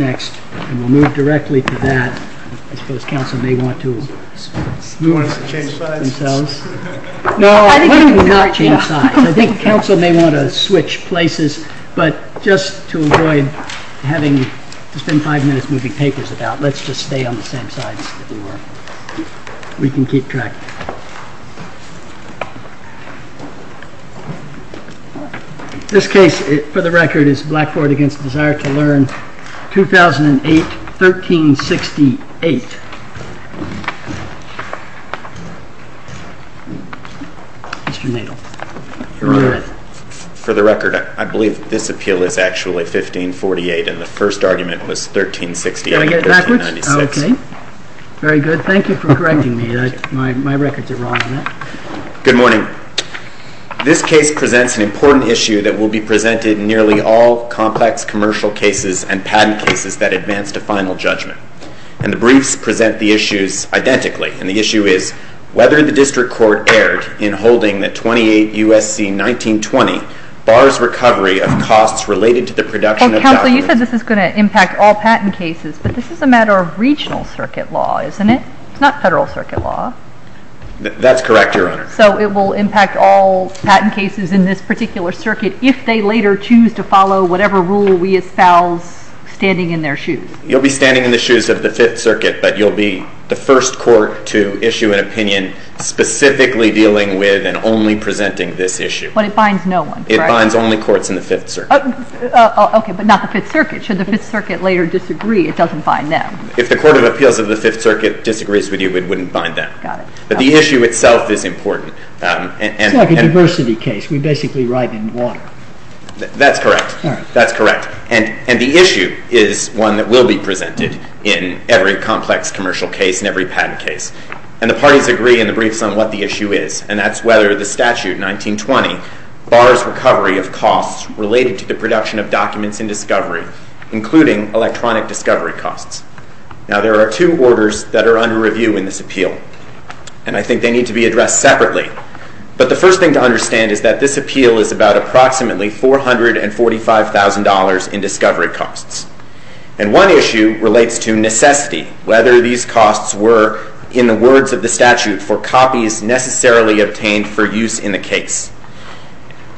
Next, and we'll move directly to that. I suppose Council may want to switch places, but just to avoid having to spend five minutes moving papers about, let's just stay on the same sides that we were. We can keep track. This case, for the record, is Blackboard v. Desire2Learn, 2008, 1368. Mr. Nadel, you're on. For the record, I believe this appeal is actually 1548, and the first argument was 1368. Can I get it backwards? Okay. Very good. Thank you for correcting me. My records are wrong on that. Good morning. This case presents an important issue that will be presented in nearly all complex commercial cases and patent cases that advance to final judgment. And the briefs present the issues identically, and the issue is whether the District Court erred in holding that 28 U.S.C. 1920 bars recovery of costs related to the production of documents. Well, Council, you said this is going to impact all patent cases, but this is a matter of regional circuit law, isn't it? It's not federal circuit law. That's correct, Your Honor. So it will impact all patent cases in this particular circuit if they later choose to follow whatever rule we espouse standing in their shoes. You'll be standing in the shoes of the Fifth Circuit, but you'll be the first court to issue an opinion specifically dealing with and only presenting this issue. But it binds no one, correct? It binds only courts in the Fifth Circuit. Okay, but not the Fifth Circuit. Should the Fifth Circuit later disagree, it doesn't bind them. If the Court of Appeals of the Fifth Circuit disagrees with you, it wouldn't bind them. Got it. But the issue itself is important. It's like a diversity case. We basically write in water. That's correct. That's correct. And the issue is one that will be presented in every complex commercial case and every patent case. And the parties agree in the briefs on what the issue is, and that's whether the statute, 1920, bars recovery of costs related to the production of documents in discovery, including electronic discovery costs. Now, there are two orders that are under review in this appeal, and I think they need to be addressed separately. But the first thing to understand is that this appeal is about approximately $445,000 in discovery costs. And one issue relates to necessity, whether these costs were, in the words of the statute, for copies necessarily obtained for use in the case.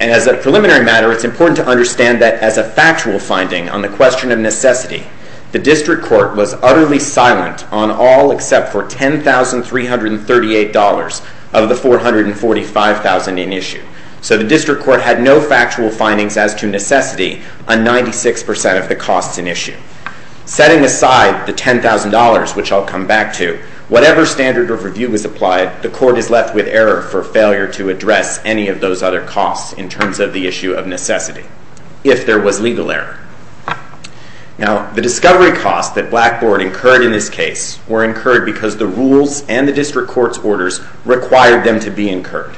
And as a preliminary matter, it's important to understand that as a factual finding on the question of necessity, the district court was utterly silent on all except for $10,338 of the $445,000 in issue. So the district court had no factual findings as to necessity on 96% of the costs in issue. Setting aside the $10,000, which I'll come back to, whatever standard of review was applied, the court is left with error for failure to address any of those other costs in terms of the issue of necessity, if there was legal error. Now, the discovery costs that Blackboard incurred in this case were incurred because the rules and the district court's orders required them to be incurred.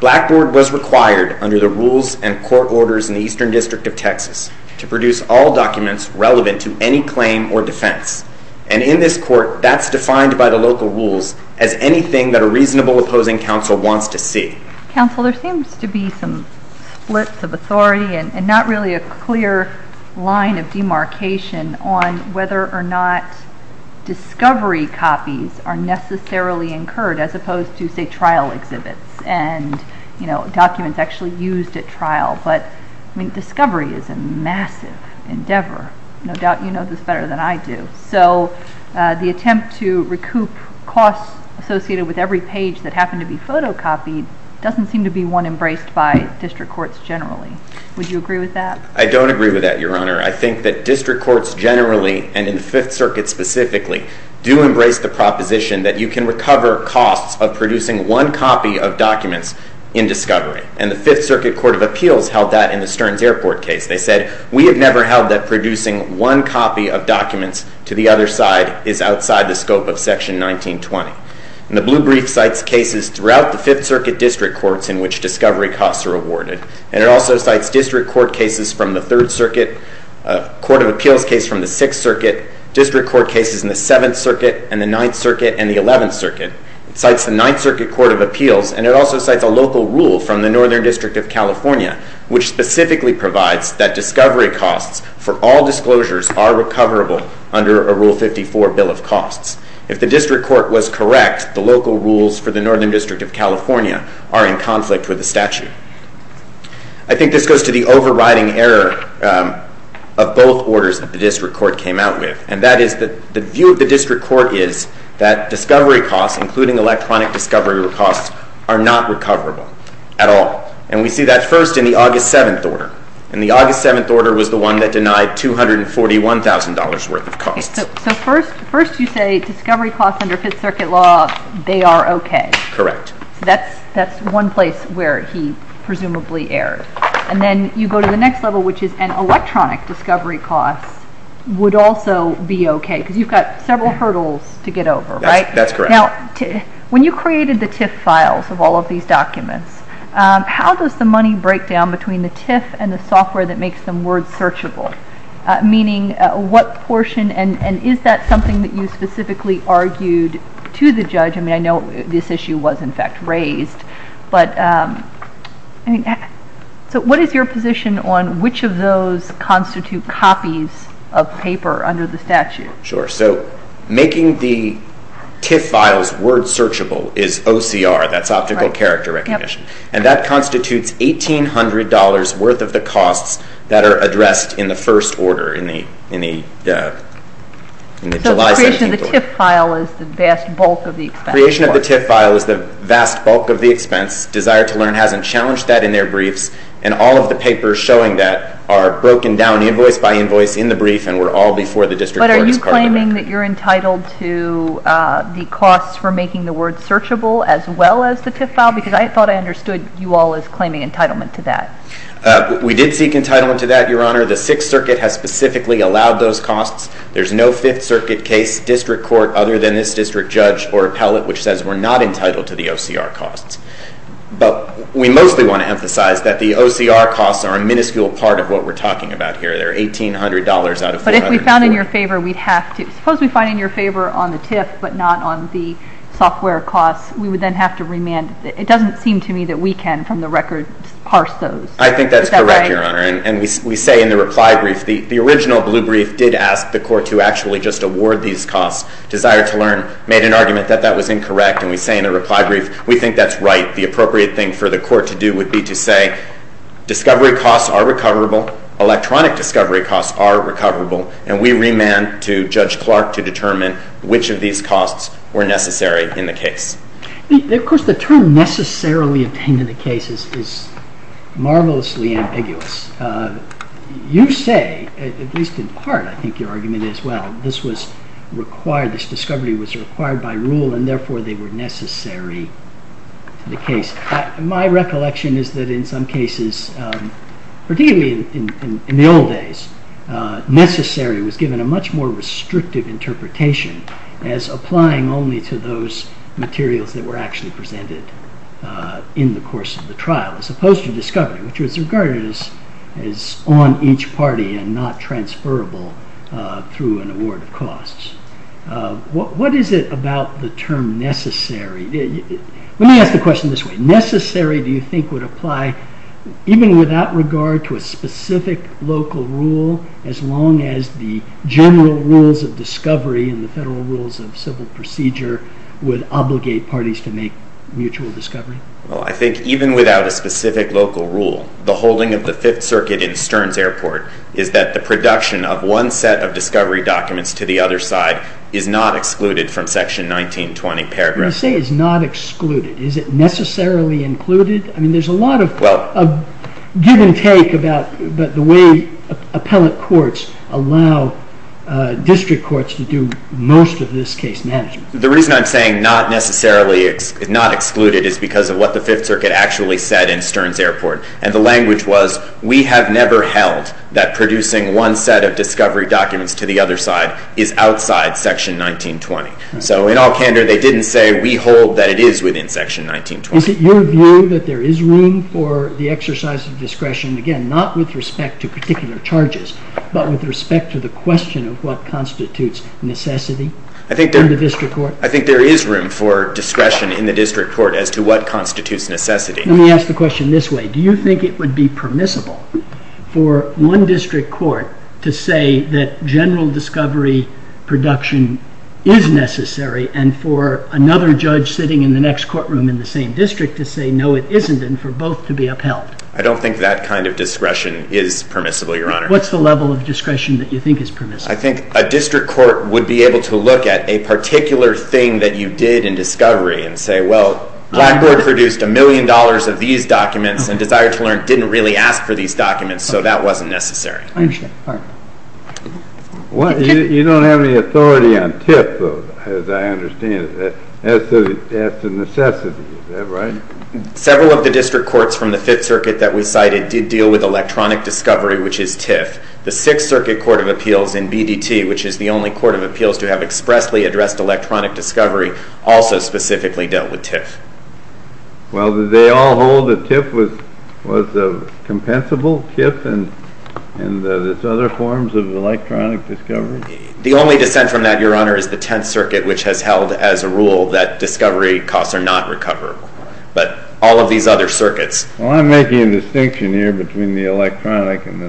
Blackboard was required under the rules and court orders in the Eastern District of Texas to produce all documents relevant to any claim or defense. And in this court, that's defined by the local rules as anything that a reasonable opposing counsel wants to see. Counsel, there seems to be some splits of authority and not really a clear line of demarcation on whether or not discovery copies are necessarily incurred as opposed to, say, trial exhibits and documents actually used at trial. But, I mean, discovery is a massive endeavor. No doubt you know this better than I do. So the attempt to recoup costs associated with every page that happened to be photocopied doesn't seem to be one embraced by district courts generally. Would you agree with that? I don't agree with that, Your Honor. I think that district courts generally, and in the Fifth Circuit specifically, do embrace the proposition that you can recover costs of producing one copy of documents in discovery. And the Fifth Circuit Court of Appeals held that in the Stearns Airport case. They said, we have never held that producing one copy of documents to the other side is outside the scope of Section 1920. And the Blue Brief cites cases throughout the Fifth Circuit district courts in which discovery costs are awarded. And it also cites district court cases from the Third Circuit, a court of appeals case from the Sixth Circuit, district court cases in the Seventh Circuit and the Ninth Circuit and the Eleventh Circuit. It cites the Ninth Circuit Court of Appeals, and it also cites a local rule from the Northern District of California, which specifically provides that discovery costs for all disclosures are recoverable under a Rule 54 Bill of Costs. If the district court was correct, the local rules for the Northern District of California are in conflict with the statute. I think this goes to the overriding error of both orders that the district court came out with. And that is that the view of the district court is that discovery costs, including electronic discovery costs, are not recoverable at all. And we see that first in the August 7th order. And the August 7th order was the one that denied $241,000 worth of costs. Okay, so first you say discovery costs under Fifth Circuit law, they are okay. Correct. So that's one place where he presumably erred. And then you go to the next level, which is an electronic discovery cost would also be okay, because you've got several hurdles to get over, right? That's correct. Now, when you created the TIF files of all of these documents, how does the money break down between the TIF and the software that makes them word searchable? Meaning what portion, and is that something that you specifically argued to the judge? I mean, I know this issue was, in fact, raised. So what is your position on which of those constitute copies of paper under the statute? Sure. So making the TIF files word searchable is OCR, that's optical character recognition. And that constitutes $1,800 worth of the costs that are addressed in the first order, in the July 17th order. So the creation of the TIF file is the vast bulk of the expense. The creation of the TIF file is the vast bulk of the expense. Desire to Learn hasn't challenged that in their briefs, and all of the papers showing that are broken down invoice by invoice in the brief, and were all before the district court as part of the brief. But are you claiming that you're entitled to the costs for making the word searchable as well as the TIF file? Because I thought I understood you all as claiming entitlement to that. We did seek entitlement to that, Your Honor. The Sixth Circuit has specifically allowed those costs. There's no Fifth Circuit case, district court, other than this district judge or appellate, which says we're not entitled to the OCR costs. But we mostly want to emphasize that the OCR costs are a minuscule part of what we're talking about here. They're $1,800 out of $400. But if we found in your favor, we'd have to. Suppose we find in your favor on the TIF but not on the software costs. We would then have to remand. It doesn't seem to me that we can, from the record, parse those. I think that's correct, Your Honor, and we say in the reply brief, the original blue brief did ask the court to actually just award these costs. Desire to Learn made an argument that that was incorrect, and we say in the reply brief, we think that's right. The appropriate thing for the court to do would be to say, discovery costs are recoverable, electronic discovery costs are recoverable, and we remand to Judge Clark to determine which of these costs were necessary in the case. Of course, the term necessarily obtained in the case is marvelously ambiguous. You say, at least in part, I think your argument is, well, this was required, this discovery was required by rule, and therefore they were necessary to the case. My recollection is that in some cases, particularly in the old days, necessary was given a much more restrictive interpretation as applying only to those materials that were actually presented in the course of the trial, as opposed to discovery, which was regarded as on each party and not transferable through an award of costs. What is it about the term necessary? Let me ask the question this way. Necessary, do you think, would apply even without regard to a specific local rule, as long as the general rules of discovery and the federal rules of civil procedure would obligate parties to make mutual discovery? Well, I think even without a specific local rule, the holding of the Fifth Circuit in Stearns Airport is that the production of one set of discovery documents to the other side is not excluded from section 1920 paragraph. When you say it's not excluded, is it necessarily included? I mean, there's a lot of give and take about the way appellate courts allow district courts to do most of this case management. The reason I'm saying not necessarily excluded is because of what the Fifth Circuit actually said in Stearns Airport, and the language was, we have never held that producing one set of discovery documents to the other side is outside section 1920. So in all candor, they didn't say we hold that it is within section 1920. Is it your view that there is room for the exercise of discretion, again, not with respect to particular charges, but with respect to the question of what constitutes necessity in the district court? I think there is room for discretion in the district court as to what constitutes necessity. Let me ask the question this way. Do you think it would be permissible for one district court to say that general discovery production is necessary and for another judge sitting in the next courtroom in the same district to say, no, it isn't, and for both to be upheld? I don't think that kind of discretion is permissible, Your Honor. What's the level of discretion that you think is permissible? I think a district court would be able to look at a particular thing that you did in discovery and say, well, Blackboard produced a million dollars of these documents and Desire to Learn didn't really ask for these documents, so that wasn't necessary. I understand. All right. You don't have any authority on TIF, though, as I understand it, as to necessity, is that right? Several of the district courts from the Fifth Circuit that we cited did deal with electronic discovery, which is TIF. The Sixth Circuit Court of Appeals in BDT, which is the only court of appeals to have expressly addressed electronic discovery, also specifically dealt with TIF. Well, did they all hold that TIF was a compensable TIF and its other forms of electronic discovery? The only descent from that, Your Honor, is the Tenth Circuit, which has held as a rule that discovery costs are not recoverable, but all of these other circuits. Well, I'm making a distinction here between the electronic and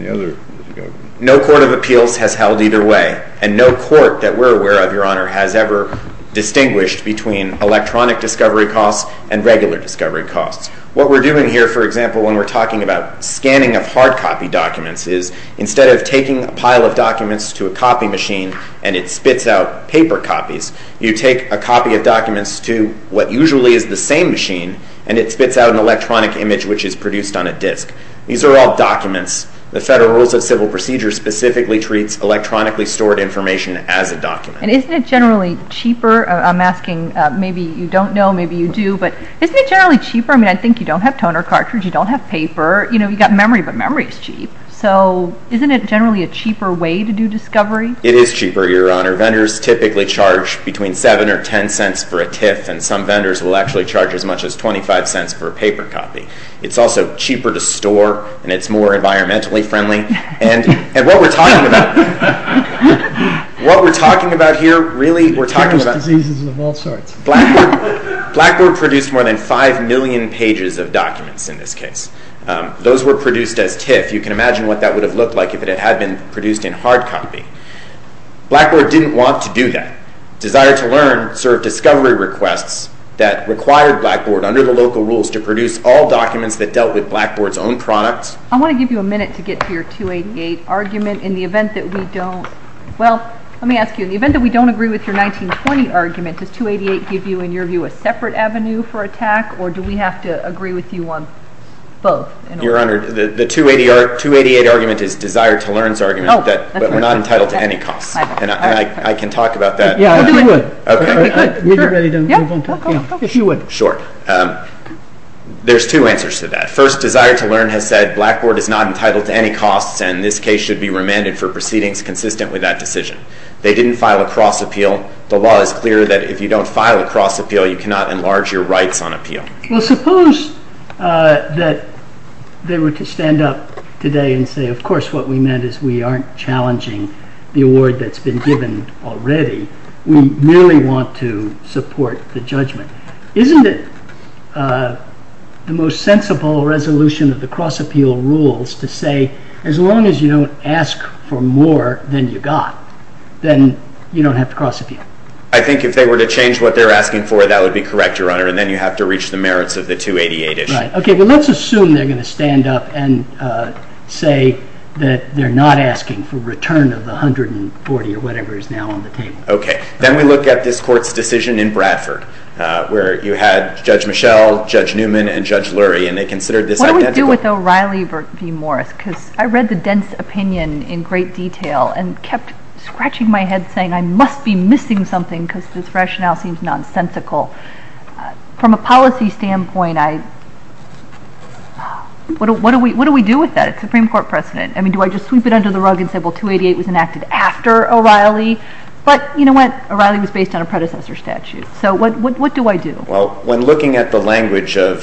the other discoveries. No court of appeals has held either way, and no court that we're aware of, Your Honor, has ever distinguished between electronic discovery costs and regular discovery costs. What we're doing here, for example, when we're talking about scanning of hard copy documents, is instead of taking a pile of documents to a copy machine and it spits out paper copies, you take a copy of documents to what usually is the same machine and it spits out an electronic image which is produced on a disc. These are all documents. The Federal Rules of Civil Procedure specifically treats electronically stored information as a document. And isn't it generally cheaper? I'm asking, maybe you don't know, maybe you do, but isn't it generally cheaper? I think you don't have toner cartridge, you don't have paper, you've got memory, but memory is cheap. So isn't it generally a cheaper way to do discovery? It is cheaper, Your Honor. Vendors typically charge between $0.07 or $0.10 for a TIFF, and some vendors will actually charge as much as $0.25 for a paper copy. It's also cheaper to store, and it's more environmentally friendly. And what we're talking about here, really, we're talking about... Terminal diseases of all sorts. Blackboard produced more than 5 million pages of documents in this case. Those were produced as TIFF. You can imagine what that would have looked like if it had been produced in hard copy. Blackboard didn't want to do that. Desire to Learn served discovery requests that required Blackboard, under the local rules, to produce all documents that dealt with Blackboard's own products. I want to give you a minute to get to your 288 argument in the event that we don't... Well, let me ask you, in the event that we don't agree with your 1920 argument, does 288 give you, in your view, a separate avenue for attack, or do we have to agree with you on both? Your Honor, the 288 argument is Desire to Learn's argument, but we're not entitled to any costs. And I can talk about that. Yeah, if you would. Okay. Sure. If you would. Sure. There's two answers to that. First, Desire to Learn has said Blackboard is not entitled to any costs, and this case should be remanded for proceedings consistent with that decision. They didn't file a cross-appeal. The law is clear that if you don't file a cross-appeal, you cannot enlarge your rights on appeal. Well, suppose that they were to stand up today and say, of course what we meant is we aren't challenging the award that's been given already. We merely want to support the judgment. Isn't it the most sensible resolution of the cross-appeal rules to say, as long as you don't ask for more than you got, then you don't have to cross-appeal? I think if they were to change what they're asking for, that would be correct, Your Honor, and then you have to reach the merits of the 288 issue. Right. Okay. But let's assume they're going to stand up and say that they're not asking for return of the 140 or whatever is now on the table. Okay. Then we look at this Court's decision in Bradford, where you had Judge Michel, Judge Newman, and Judge Lurie, and they considered this identical. What do we do with O'Reilly v. Morris? Because I read the dense opinion in great detail and kept scratching my head saying I must be missing something because this rationale seems nonsensical. From a policy standpoint, what do we do with that? It's a Supreme Court precedent. I mean, do I just sweep it under the rug and say, well, 288 was enacted after O'Reilly? But you know what? O'Reilly was based on a predecessor statute. So what do I do? Well, when looking at the language of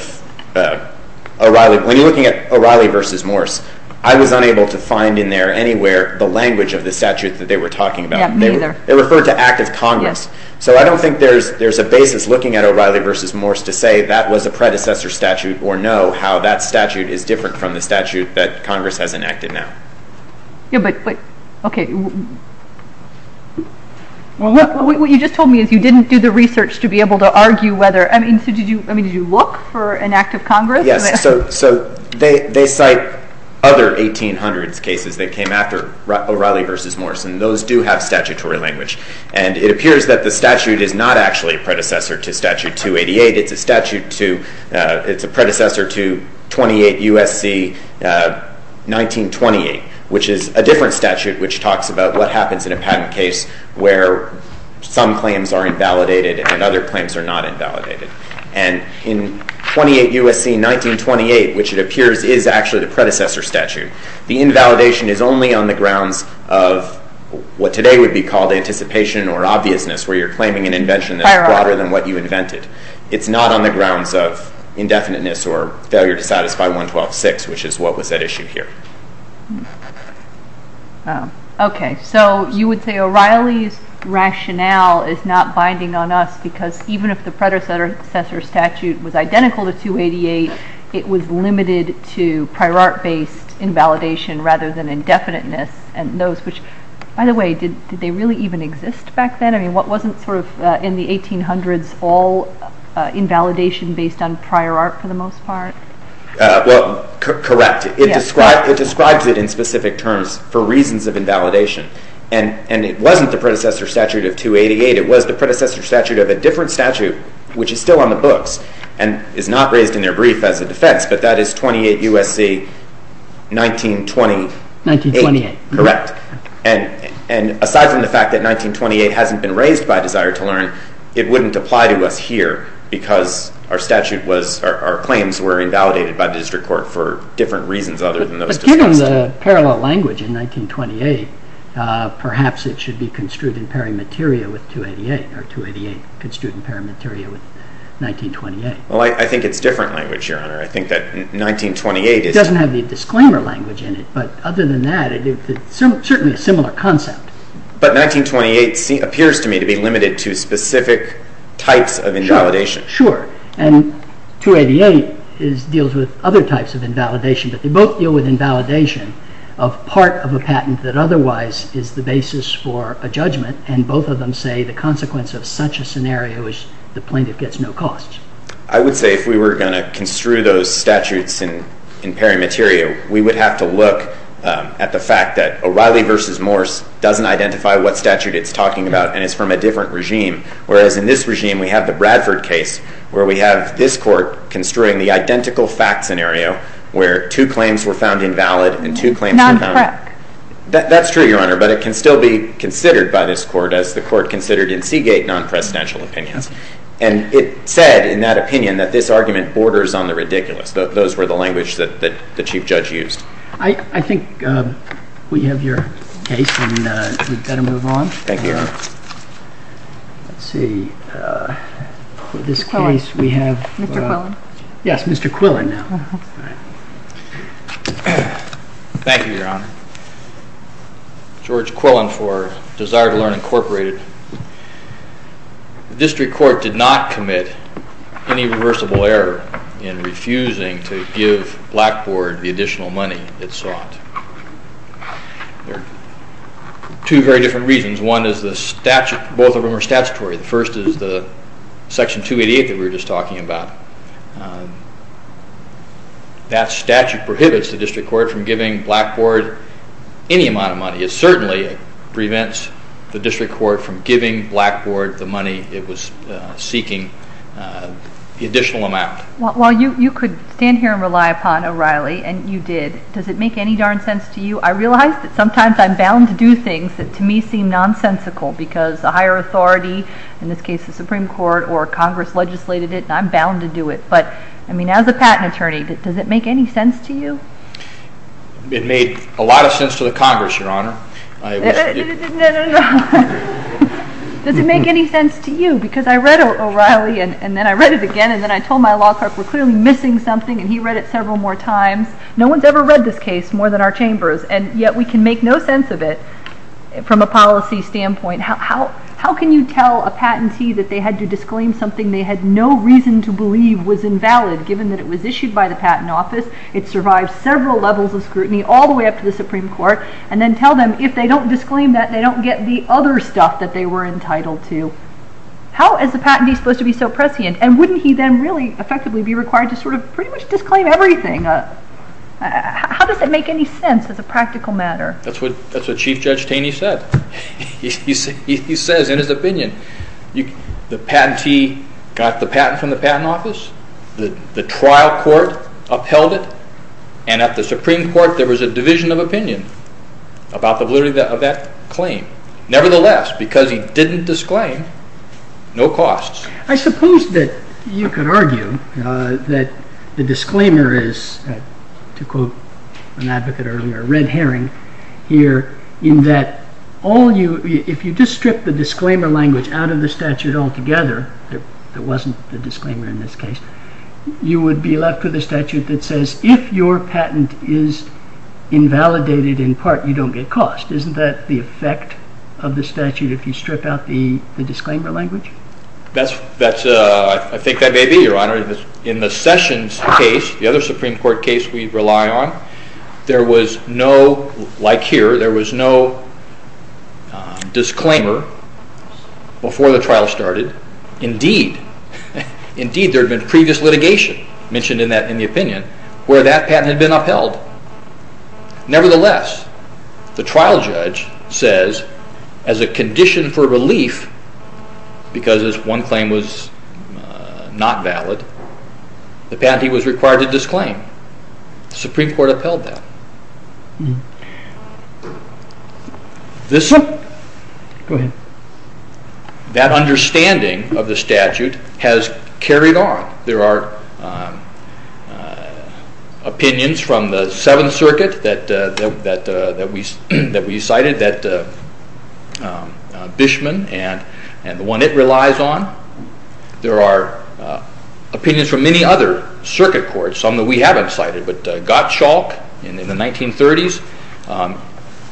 O'Reilly v. Morris, I was unable to find in there anywhere the language of the statute that they were talking about. Yeah, me neither. It referred to Act of Congress. Yes. So I don't think there's a basis looking at O'Reilly v. Morris to say that was a predecessor statute or know how that statute is different from the statute that Congress has enacted now. Yeah, but okay. What you just told me is you didn't do the research to be able to argue whether I mean, did you look for an Act of Congress? Yes. So they cite other 1800s cases that came after O'Reilly v. Morris, and those do have statutory language. And it appears that the statute is not actually a predecessor to Statute 288. It's a predecessor to 28 U.S.C. 1928, which is a different statute which talks about what happens in a patent case where some claims are invalidated and other claims are not invalidated. And in 28 U.S.C. 1928, which it appears is actually the predecessor statute, the invalidation is only on the grounds of what today would be called anticipation or obviousness, where you're claiming an invention that's broader than what you invented. It's not on the grounds of indefiniteness or failure to satisfy 112.6, which is what was at issue here. Okay, so you would say O'Reilly's rationale is not binding on us because even if the predecessor statute was identical to 288, it was limited to prior art-based invalidation rather than indefiniteness, and those which, by the way, did they really even exist back then? I mean, wasn't sort of in the 1800s all invalidation based on prior art for the most part? Well, correct. It describes it in specific terms for reasons of invalidation, and it wasn't the predecessor statute of 288. It was the predecessor statute of a different statute, which is still on the books and is not raised in their brief as a defense, but that is 28 U.S.C. 1928. 1928. Correct. And aside from the fact that 1928 hasn't been raised by Desire to Learn, it wouldn't apply to us here because our statute was, our claims were invalidated by the district court for different reasons other than those discussed. But given the parallel language in 1928, perhaps it should be construed in pari materia with 288, or 288 construed in pari materia with 1928. Well, I think it's different language, Your Honor. I think that 1928 is... It doesn't have the disclaimer language in it, but other than that it's certainly a similar concept. But 1928 appears to me to be limited to specific types of invalidation. Sure. And 288 deals with other types of invalidation, but they both deal with invalidation of part of a patent that otherwise is the basis for a judgment, and both of them say the consequence of such a scenario is the plaintiff gets no cost. I would say if we were going to construe those statutes in pari materia, we would have to look at the fact that O'Reilly v. Morse doesn't identify what statute it's talking about and is from a different regime, whereas in this regime we have the Bradford case where we have this court construing the identical fact scenario where two claims were found invalid and two claims were found... Not correct. That's true, Your Honor, but it can still be considered by this court as the court considered in Seagate non-presidential opinions. And it said in that opinion that this argument borders on the ridiculous. Those were the language that the Chief Judge used. I think we have your case and we'd better move on. Thank you, Your Honor. Let's see. For this case we have... Mr. Quillen. Yes, Mr. Quillen. Thank you, Your Honor. George Quillen for Desire to Learn, Incorporated. The district court did not commit any reversible error in refusing to give Blackboard the additional money it sought. There are two very different reasons. One is the statute, both of them are statutory. The first is the Section 288 that we were just talking about. That statute prohibits the district court from giving Blackboard any amount of money. It certainly prevents the district court from giving Blackboard the money it was seeking, the additional amount. While you could stand here and rely upon O'Reilly, and you did, does it make any darn sense to you? I realize that sometimes I'm bound to do things that to me seem nonsensical because the higher authority, in this case the Supreme Court or Congress legislated it, and I'm bound to do it. But, I mean, as a patent attorney, does it make any sense to you? It made a lot of sense to the Congress, Your Honor. No, no, no. Does it make any sense to you? Because I read O'Reilly, and then I read it again, and then I told my law clerk we're clearly missing something, and he read it several more times. No one's ever read this case more than our chambers, and yet we can make no sense of it from a policy standpoint. How can you tell a patentee that they had to disclaim something they had no reason to believe was invalid given that it was issued by the Patent Office, it survived several levels of scrutiny all the way up to the Supreme Court, and then tell them if they don't disclaim that they don't get the other stuff that they were entitled to? How is a patentee supposed to be so prescient, and wouldn't he then really effectively be required to sort of pretty much disclaim everything? How does it make any sense as a practical matter? That's what Chief Judge Taney said. He says in his opinion, the patentee got the patent from the Patent Office, the trial court upheld it, and at the Supreme Court there was a division of opinion about the validity of that claim. Nevertheless, because he didn't disclaim, no costs. I suppose that you could argue that the disclaimer is, to quote an advocate earlier, the red herring here, in that if you just strip the disclaimer language out of the statute altogether, there wasn't a disclaimer in this case, you would be left with a statute that says if your patent is invalidated in part, you don't get cost. Isn't that the effect of the statute if you strip out the disclaimer language? I think that may be, Your Honor. In the Sessions case, the other Supreme Court case we rely on, there was no, like here, there was no disclaimer before the trial started. Indeed, there had been previous litigation mentioned in the opinion where that patent had been upheld. Nevertheless, the trial judge says as a condition for relief, because one claim was not valid, the patentee was required to disclaim. The Supreme Court upheld that. This one, that understanding of the statute has carried on. There are opinions from the Seventh Circuit that we cited, that Bishman and the one it relies on, there are opinions from many other circuit courts, some that we haven't cited, but Gottschalk in the 1930s,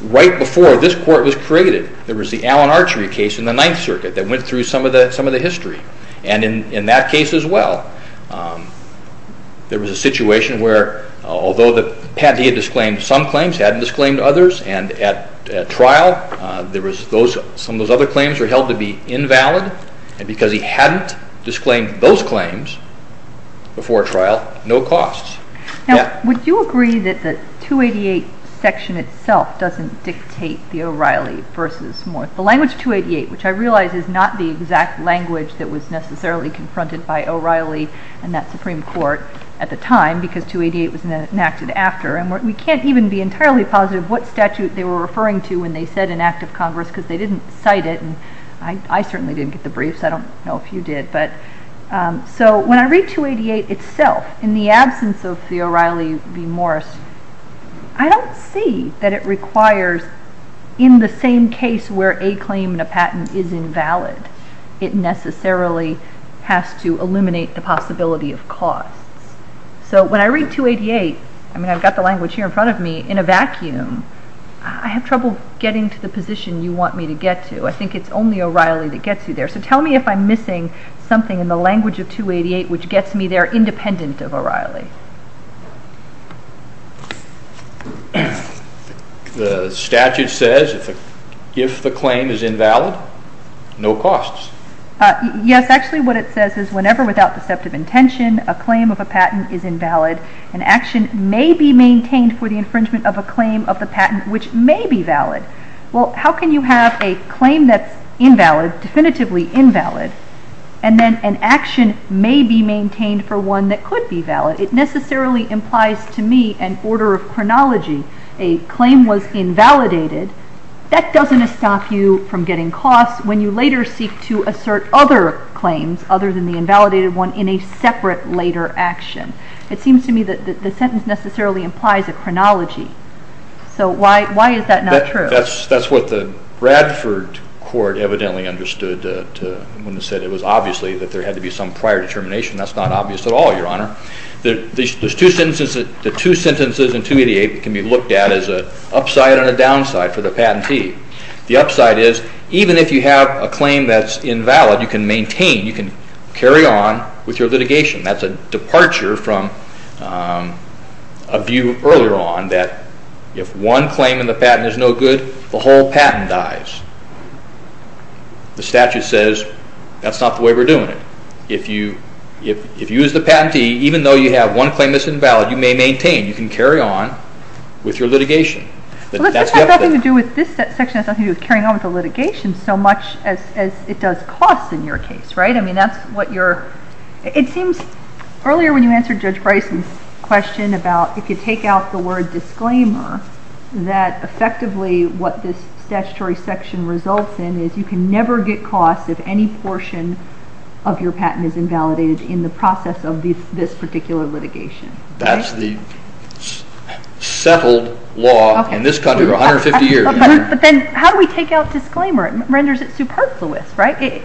right before this court was created, there was the Allen Archery case in the Ninth Circuit that went through some of the history. In that case as well, there was a situation where, although the patentee had disclaimed some claims, he hadn't disclaimed others, and at trial, some of those other claims were held to be invalid, and because he hadn't disclaimed those claims before trial, no costs. Now, would you agree that the 288 section itself doesn't dictate the O'Reilly v. Morse? The language 288, which I realize is not the exact language that was necessarily confronted by O'Reilly and that Supreme Court at the time, because 288 was enacted after, and we can't even be entirely positive what statute they were referring to when they said an act of Congress, because they didn't cite it, and I certainly didn't get the briefs, I don't know if you did, so when I read 288 itself, in the absence of the O'Reilly v. Morse, I don't see that it requires, in the same case where a claim and a patent is invalid, it necessarily has to eliminate the possibility of costs. So when I read 288, I mean I've got the language here in front of me, in a vacuum, I have trouble getting to the position you want me to get to. I think it's only O'Reilly that gets you there. So tell me if I'm missing something in the language of 288 which gets me there independent of O'Reilly. The statute says if the claim is invalid, no costs. Yes, actually what it says is whenever without deceptive intention a claim of a patent is invalid, an action may be maintained for the infringement of a claim of the patent which may be valid. Well, how can you have a claim that's invalid, definitively invalid, and then an action may be maintained for one that could be valid? It necessarily implies to me an order of chronology. A claim was invalidated. That doesn't stop you from getting costs when you later seek to assert other claims, other than the invalidated one, in a separate later action. It seems to me that the sentence necessarily implies a chronology. So why is that not true? That's what the Bradford court evidently understood when it said it was obviously that there had to be some prior determination. That's not obvious at all, Your Honor. The two sentences in 288 can be looked at as an upside and a downside for the patentee. The upside is even if you have a claim that's invalid, you can maintain, you can carry on with your litigation. That's a departure from a view earlier on that if one claim in the patent is no good, the whole patent dies. The statute says that's not the way we're doing it. If you as the patentee, even though you have one claim that's invalid, you may maintain. You can carry on with your litigation. That has nothing to do with this section. It has nothing to do with carrying on with the litigation so much as it does costs in your case, right? It seems earlier when you answered Judge Bryson's question about if you take out the word disclaimer, that effectively what this statutory section results in is you can never get costs if any portion of your patent is invalidated in the process of this particular litigation. That's the settled law in this country for 150 years. But then how do we take out disclaimer? It renders it superfluous, right?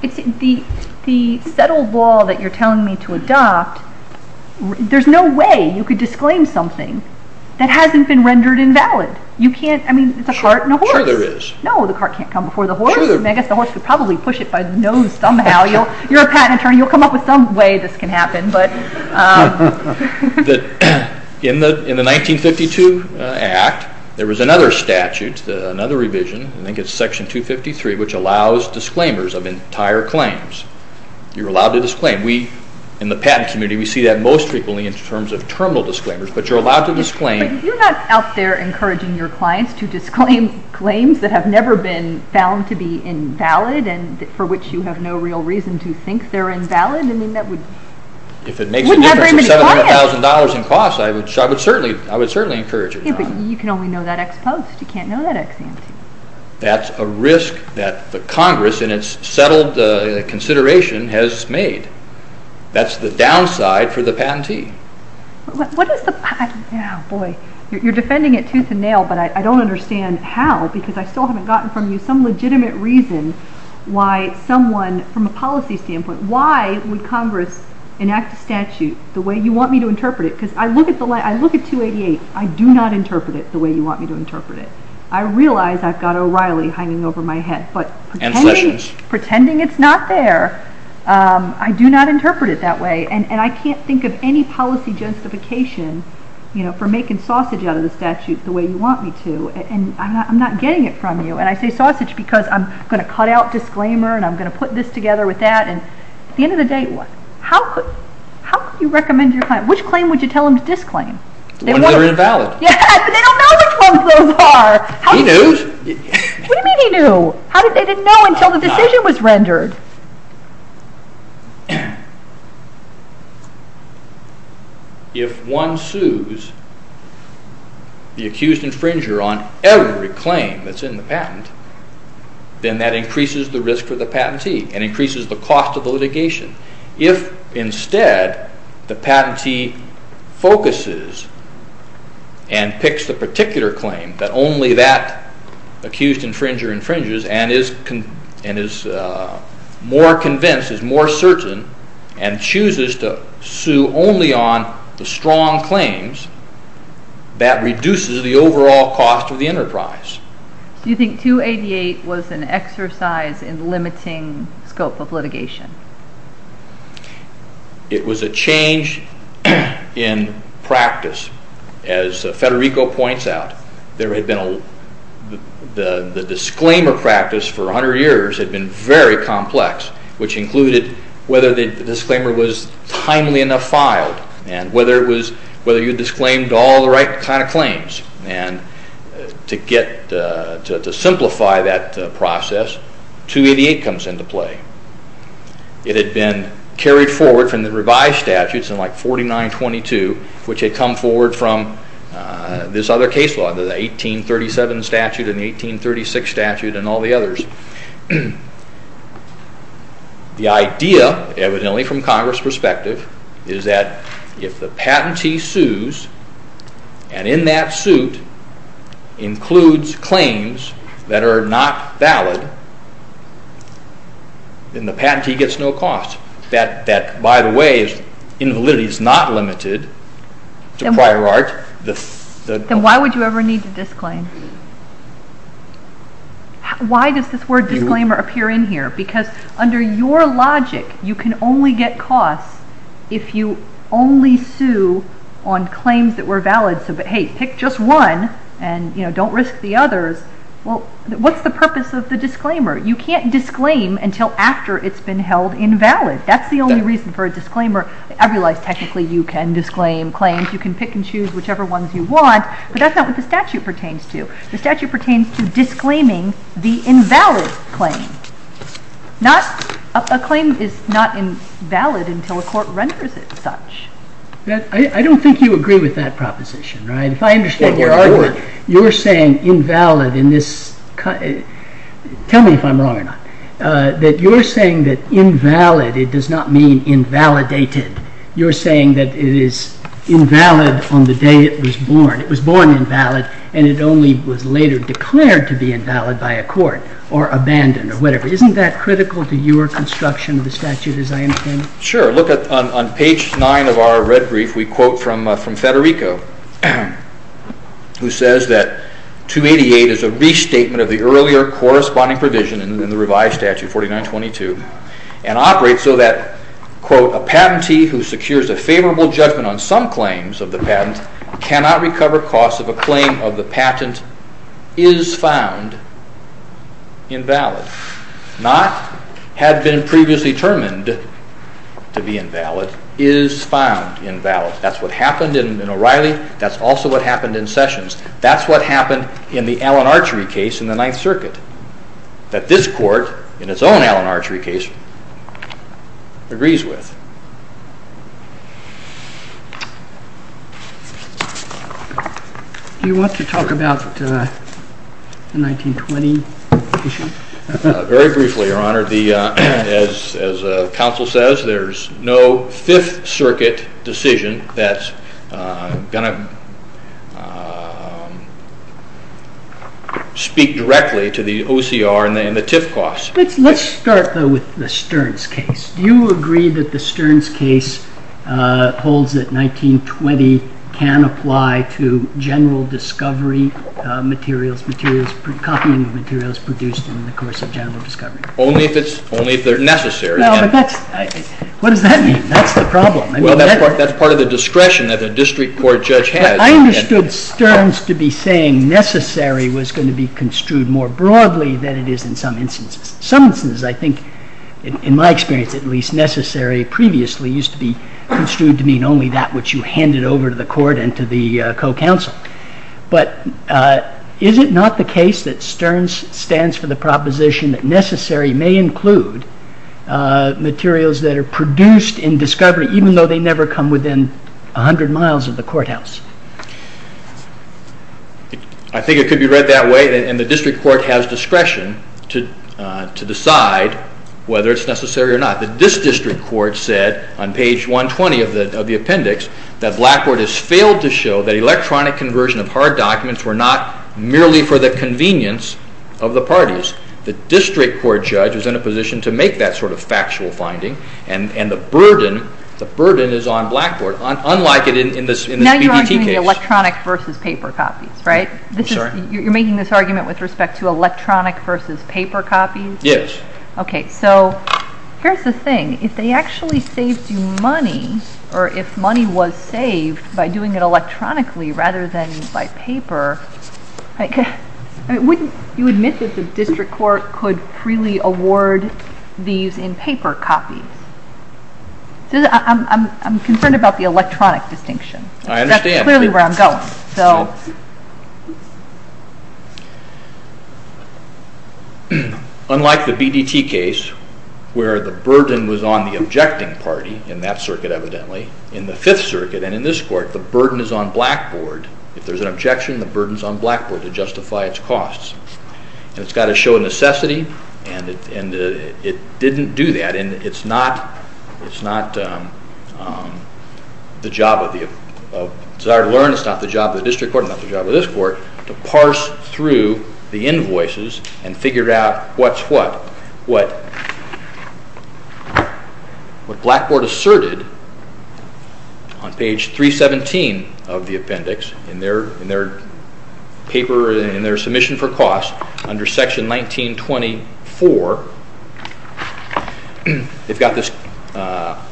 The settled law that you're telling me to adopt, there's no way you could disclaim something that hasn't been rendered invalid. It's a cart and a horse. Sure there is. No, the cart can't come before the horse. I guess the horse would probably push it by the nose somehow. You're a patent attorney. You'll come up with some way this can happen. In the 1952 Act, there was another statute, another revision, I think it's section 253, which allows disclaimers of entire claims. You're allowed to disclaim. In the patent community, we see that most frequently in terms of terminal disclaimers, but you're allowed to disclaim. But you're not out there encouraging your clients to disclaim claims that have never been found to be invalid and for which you have no real reason to think they're invalid. If it makes a difference of $700,000 in costs, I would certainly encourage it. But you can only know that ex post. You can't know that ex ante. That's a risk that the Congress in its settled consideration has made. That's the downside for the patentee. You're defending it tooth and nail, but I don't understand how because I still haven't gotten from you some legitimate reason why someone from a policy standpoint, why would Congress enact a statute the way you want me to interpret it? Because I look at 288. I do not interpret it the way you want me to interpret it. I realize I've got O'Reilly hanging over my head, but pretending it's not there, I do not interpret it that way. And I can't think of any policy justification for making sausage out of the statute the way you want me to. And I'm not getting it from you. And I say sausage because I'm going to cut out disclaimer and I'm going to put this together with that. At the end of the day, how could you recommend your client? Which claim would you tell them to disclaim? The ones that are invalid. Yes, but they don't know which ones those are. He knows. What do you mean he knew? They didn't know until the decision was rendered. If one sues the accused infringer on every claim that's in the patent, then that increases the risk for the patentee and increases the cost of the litigation. If instead the patentee focuses and picks the particular claim that only that accused infringer infringes and is more convinced, is more certain, and chooses to sue only on the strong claims, that reduces the overall cost of the enterprise. Do you think 288 was an exercise in limiting scope of litigation? It was a change in practice. As Federico points out, the disclaimer practice for 100 years had been very complex, which included whether the disclaimer was timely enough filed and whether you disclaimed all the right kind of claims. To simplify that process, 288 comes into play. It had been carried forward from the revised statutes in like 4922, which had come forward from this other case law, the 1837 statute and the 1836 statute and all the others. The idea, evidently from Congress' perspective, is that if the patentee sues and in that suit includes claims that are not valid, then the patentee gets no cost. That, by the way, invalidity is not limited to prior art. Then why would you ever need to disclaim? Why does this word disclaimer appear in here? Because under your logic, you can only get costs if you only sue on claims that were valid. Hey, pick just one and don't risk the others. What's the purpose of the disclaimer? You can't disclaim until after it's been held invalid. That's the only reason for a disclaimer. I realize technically you can disclaim claims. You can pick and choose whichever ones you want, but that's not what the statute pertains to. The statute pertains to disclaiming the invalid claim. A claim is not invalid until a court renders it such. I don't think you agree with that proposition, right? If I understand your argument, you're saying invalid in this – tell me if I'm wrong or not – that you're saying that invalid, it does not mean invalidated. You're saying that it is invalid on the day it was born. It was born invalid, and it only was later declared to be invalid by a court or abandoned or whatever. Isn't that critical to your construction of the statute as I understand it? Sure. On page 9 of our red brief, we quote from Federico, who says that 288 is a restatement of the earlier corresponding provision in the revised statute, 4922, and operates so that, quote, a patentee who secures a favorable judgment on some claims of the patent cannot recover costs if a claim of the patent is found invalid. Not had been previously determined to be invalid, is found invalid. That's what happened in O'Reilly. That's also what happened in Sessions. That's what happened in the Allen Archery case in the Ninth Circuit. That this court, in its own Allen Archery case, agrees with. Do you want to talk about the 1920 issue? Very briefly, Your Honor. As counsel says, there's no Fifth Circuit decision that's going to speak directly to the OCR and the TIF costs. Let's start, though, with the Stearns case. Do you agree that the Stearns case holds that 1920 can apply to general discovery materials, copying of materials produced in the course of general discovery? Only if they're necessary. What does that mean? That's the problem. That's part of the discretion that a district court judge has. I understood Stearns to be saying necessary was going to be construed more broadly than it is in some instances. I think, in my experience at least, necessary previously used to be construed to mean only that which you handed over to the court and to the co-counsel. But is it not the case that Stearns stands for the proposition that necessary may include materials that are produced in discovery, even though they never come within 100 miles of the courthouse? I think it could be read that way, and the district court has discretion to decide whether it's necessary or not. This district court said on page 120 of the appendix that Blackboard has failed to show that electronic conversion of hard documents were not merely for the convenience of the parties. The district court judge was in a position to make that sort of factual finding, and the burden is on Blackboard. Now you're arguing electronic versus paper copies, right? I'm sorry? You're making this argument with respect to electronic versus paper copies? Yes. Okay, so here's the thing. If they actually saved you money, or if money was saved by doing it electronically rather than by paper, wouldn't you admit that the district court could freely award these in paper copies? I'm concerned about the electronic distinction. I understand. That's clearly where I'm going. Unlike the BDT case where the burden was on the objecting party, in that circuit evidently, in the Fifth Circuit and in this court, the burden is on Blackboard. If there's an objection, the burden is on Blackboard to justify its costs. It's got to show a necessity, and it didn't do that. It's not the job of the desire to learn. It's not the job of the district court. It's not the job of this court to parse through the invoices and figure out what's what. What Blackboard asserted on page 317 of the appendix in their paper, in their submission for costs, under section 1924, they've got this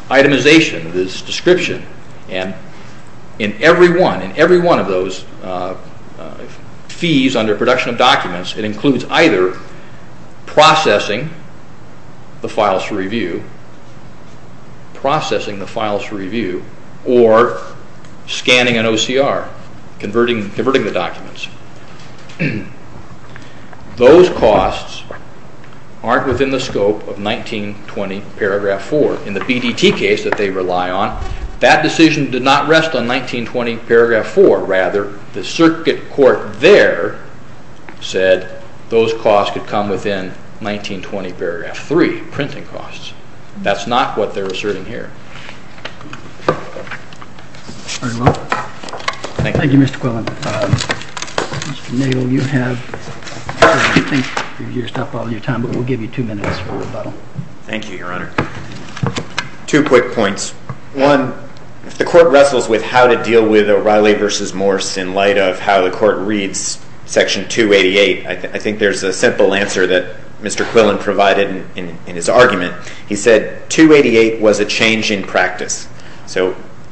itemization, this description, and in every one of those fees under production of documents, it includes either processing the files for review or scanning an OCR, converting the documents. Those costs aren't within the scope of 1920 paragraph 4. In the BDT case that they rely on, that decision did not rest on 1920 paragraph 4. Rather, the circuit court there said those costs could come within 1920 paragraph 3, printing costs. That's not what they're asserting here. Thank you, Mr. Quillen. Thank you, Your Honor. Two quick points. One, if the court wrestles with how to deal with O'Reilly v. Morse in light of how the court reads section 288, I think there's a simple answer that Mr. Quillen provided in his argument. He said 288 was a change in practice,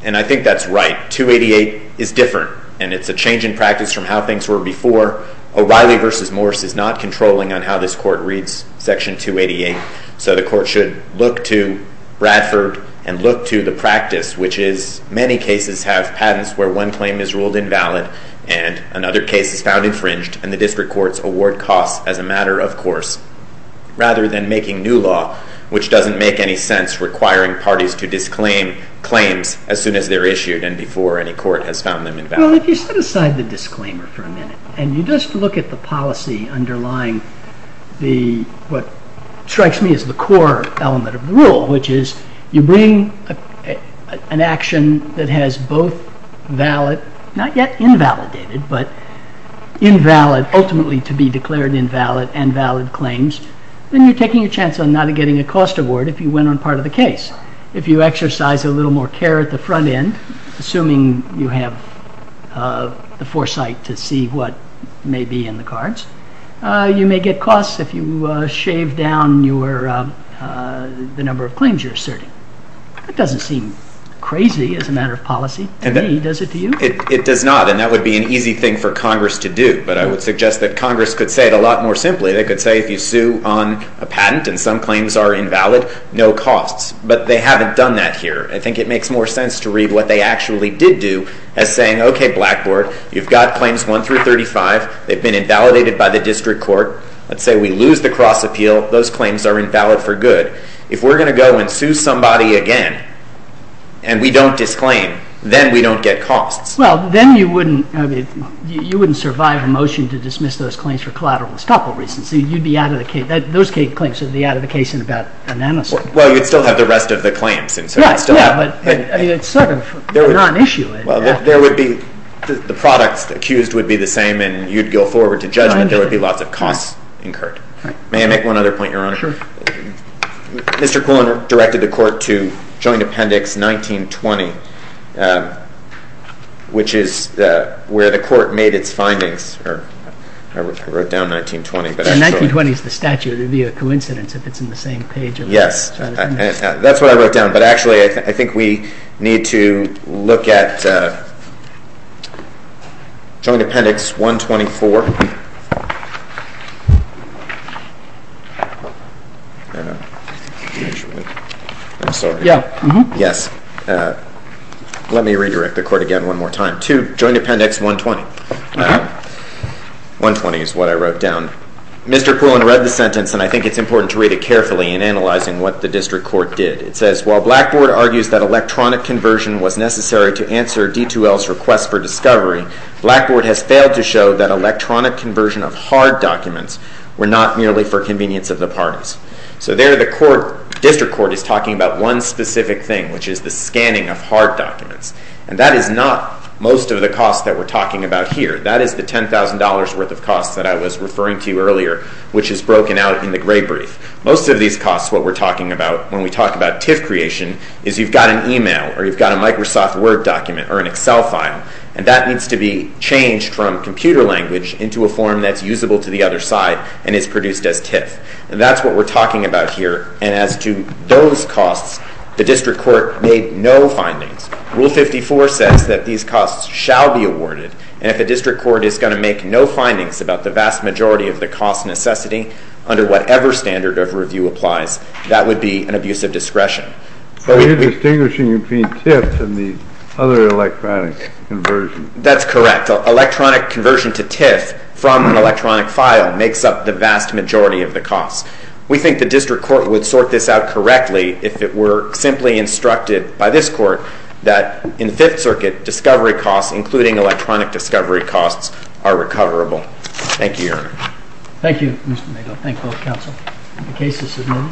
and I think that's right. 288 is different, and it's a change in practice from how things were before. O'Reilly v. Morse is not controlling on how this court reads section 288, so the court should look to Bradford and look to the practice, which is many cases have patents where one claim is ruled invalid and another case is found infringed, and the district courts award costs as a matter of course rather than making new law, which doesn't make any sense requiring parties to disclaim claims as soon as they're issued and before any court has found them invalid. Well, if you set aside the disclaimer for a minute and you just look at the policy underlying what strikes me as the core element of the rule, which is you bring an action that has both valid, not yet invalidated, but ultimately to be declared invalid and valid claims, then you're taking a chance on not getting a cost award if you went on part of the case. If you exercise a little more care at the front end, assuming you have the foresight to see what may be in the cards, you may get costs if you shave down the number of claims you're asserting. That doesn't seem crazy as a matter of policy to me, does it to you? It does not, and that would be an easy thing for Congress to do, but I would suggest that Congress could say it a lot more simply. They could say if you sue on a patent and some claims are invalid, no costs, but they haven't done that here. I think it makes more sense to read what they actually did do as saying, okay, Blackboard, you've got claims 1 through 35. They've been invalidated by the district court. Let's say we lose the cross-appeal. Those claims are invalid for good. If we're going to go and sue somebody again and we don't disclaim, then we don't get costs. Well, then you wouldn't survive a motion to dismiss those claims for collateral and estoppel reasons. Those claims would be out of the case in about a nanosecond. Well, you'd still have the rest of the claims. Yeah, but it's sort of a non-issue. Well, the products accused would be the same and you'd go forward to judgment. There would be lots of costs incurred. May I make one other point, Your Honor? Sure. Mr. Quillen directed the court to joint appendix 1920, which is where the court made its findings. I wrote down 1920. 1920 is the statute. It would be a coincidence if it's in the same page. Yes, that's what I wrote down. But actually, I think we need to look at joint appendix 124. I'm sorry. Yes. Let me redirect the court again one more time. To joint appendix 120. 120 is what I wrote down. Mr. Quillen read the sentence, and I think it's important to read it carefully in analyzing what the district court did. It says, While Blackboard argues that electronic conversion was necessary to answer D2L's request for discovery, Blackboard has failed to show that electronic conversion of hard documents were not merely for convenience of the parties. So there the district court is talking about one specific thing, which is the scanning of hard documents. And that is not most of the costs that we're talking about here. That is the $10,000 worth of costs that I was referring to earlier, which is broken out in the gray brief. Most of these costs, what we're talking about when we talk about TIF creation, is you've got an email or you've got a Microsoft Word document or an Excel file, and that needs to be changed from computer language into a form that's usable to the other side and is produced as TIF. And that's what we're talking about here. And as to those costs, the district court made no findings. Rule 54 says that these costs shall be awarded. And if a district court is going to make no findings about the vast majority of the cost necessity under whatever standard of review applies, that would be an abuse of discretion. So you're distinguishing between TIF and the other electronic conversion. That's correct. Electronic conversion to TIF from an electronic file makes up the vast majority of the costs. We think the district court would sort this out correctly if it were simply instructed by this court that in the Fifth Circuit, discovery costs, including electronic discovery costs, are recoverable. Thank you, Your Honor. Thank you, Mr. Maynard. Thank you, both counsel. The case is submitted.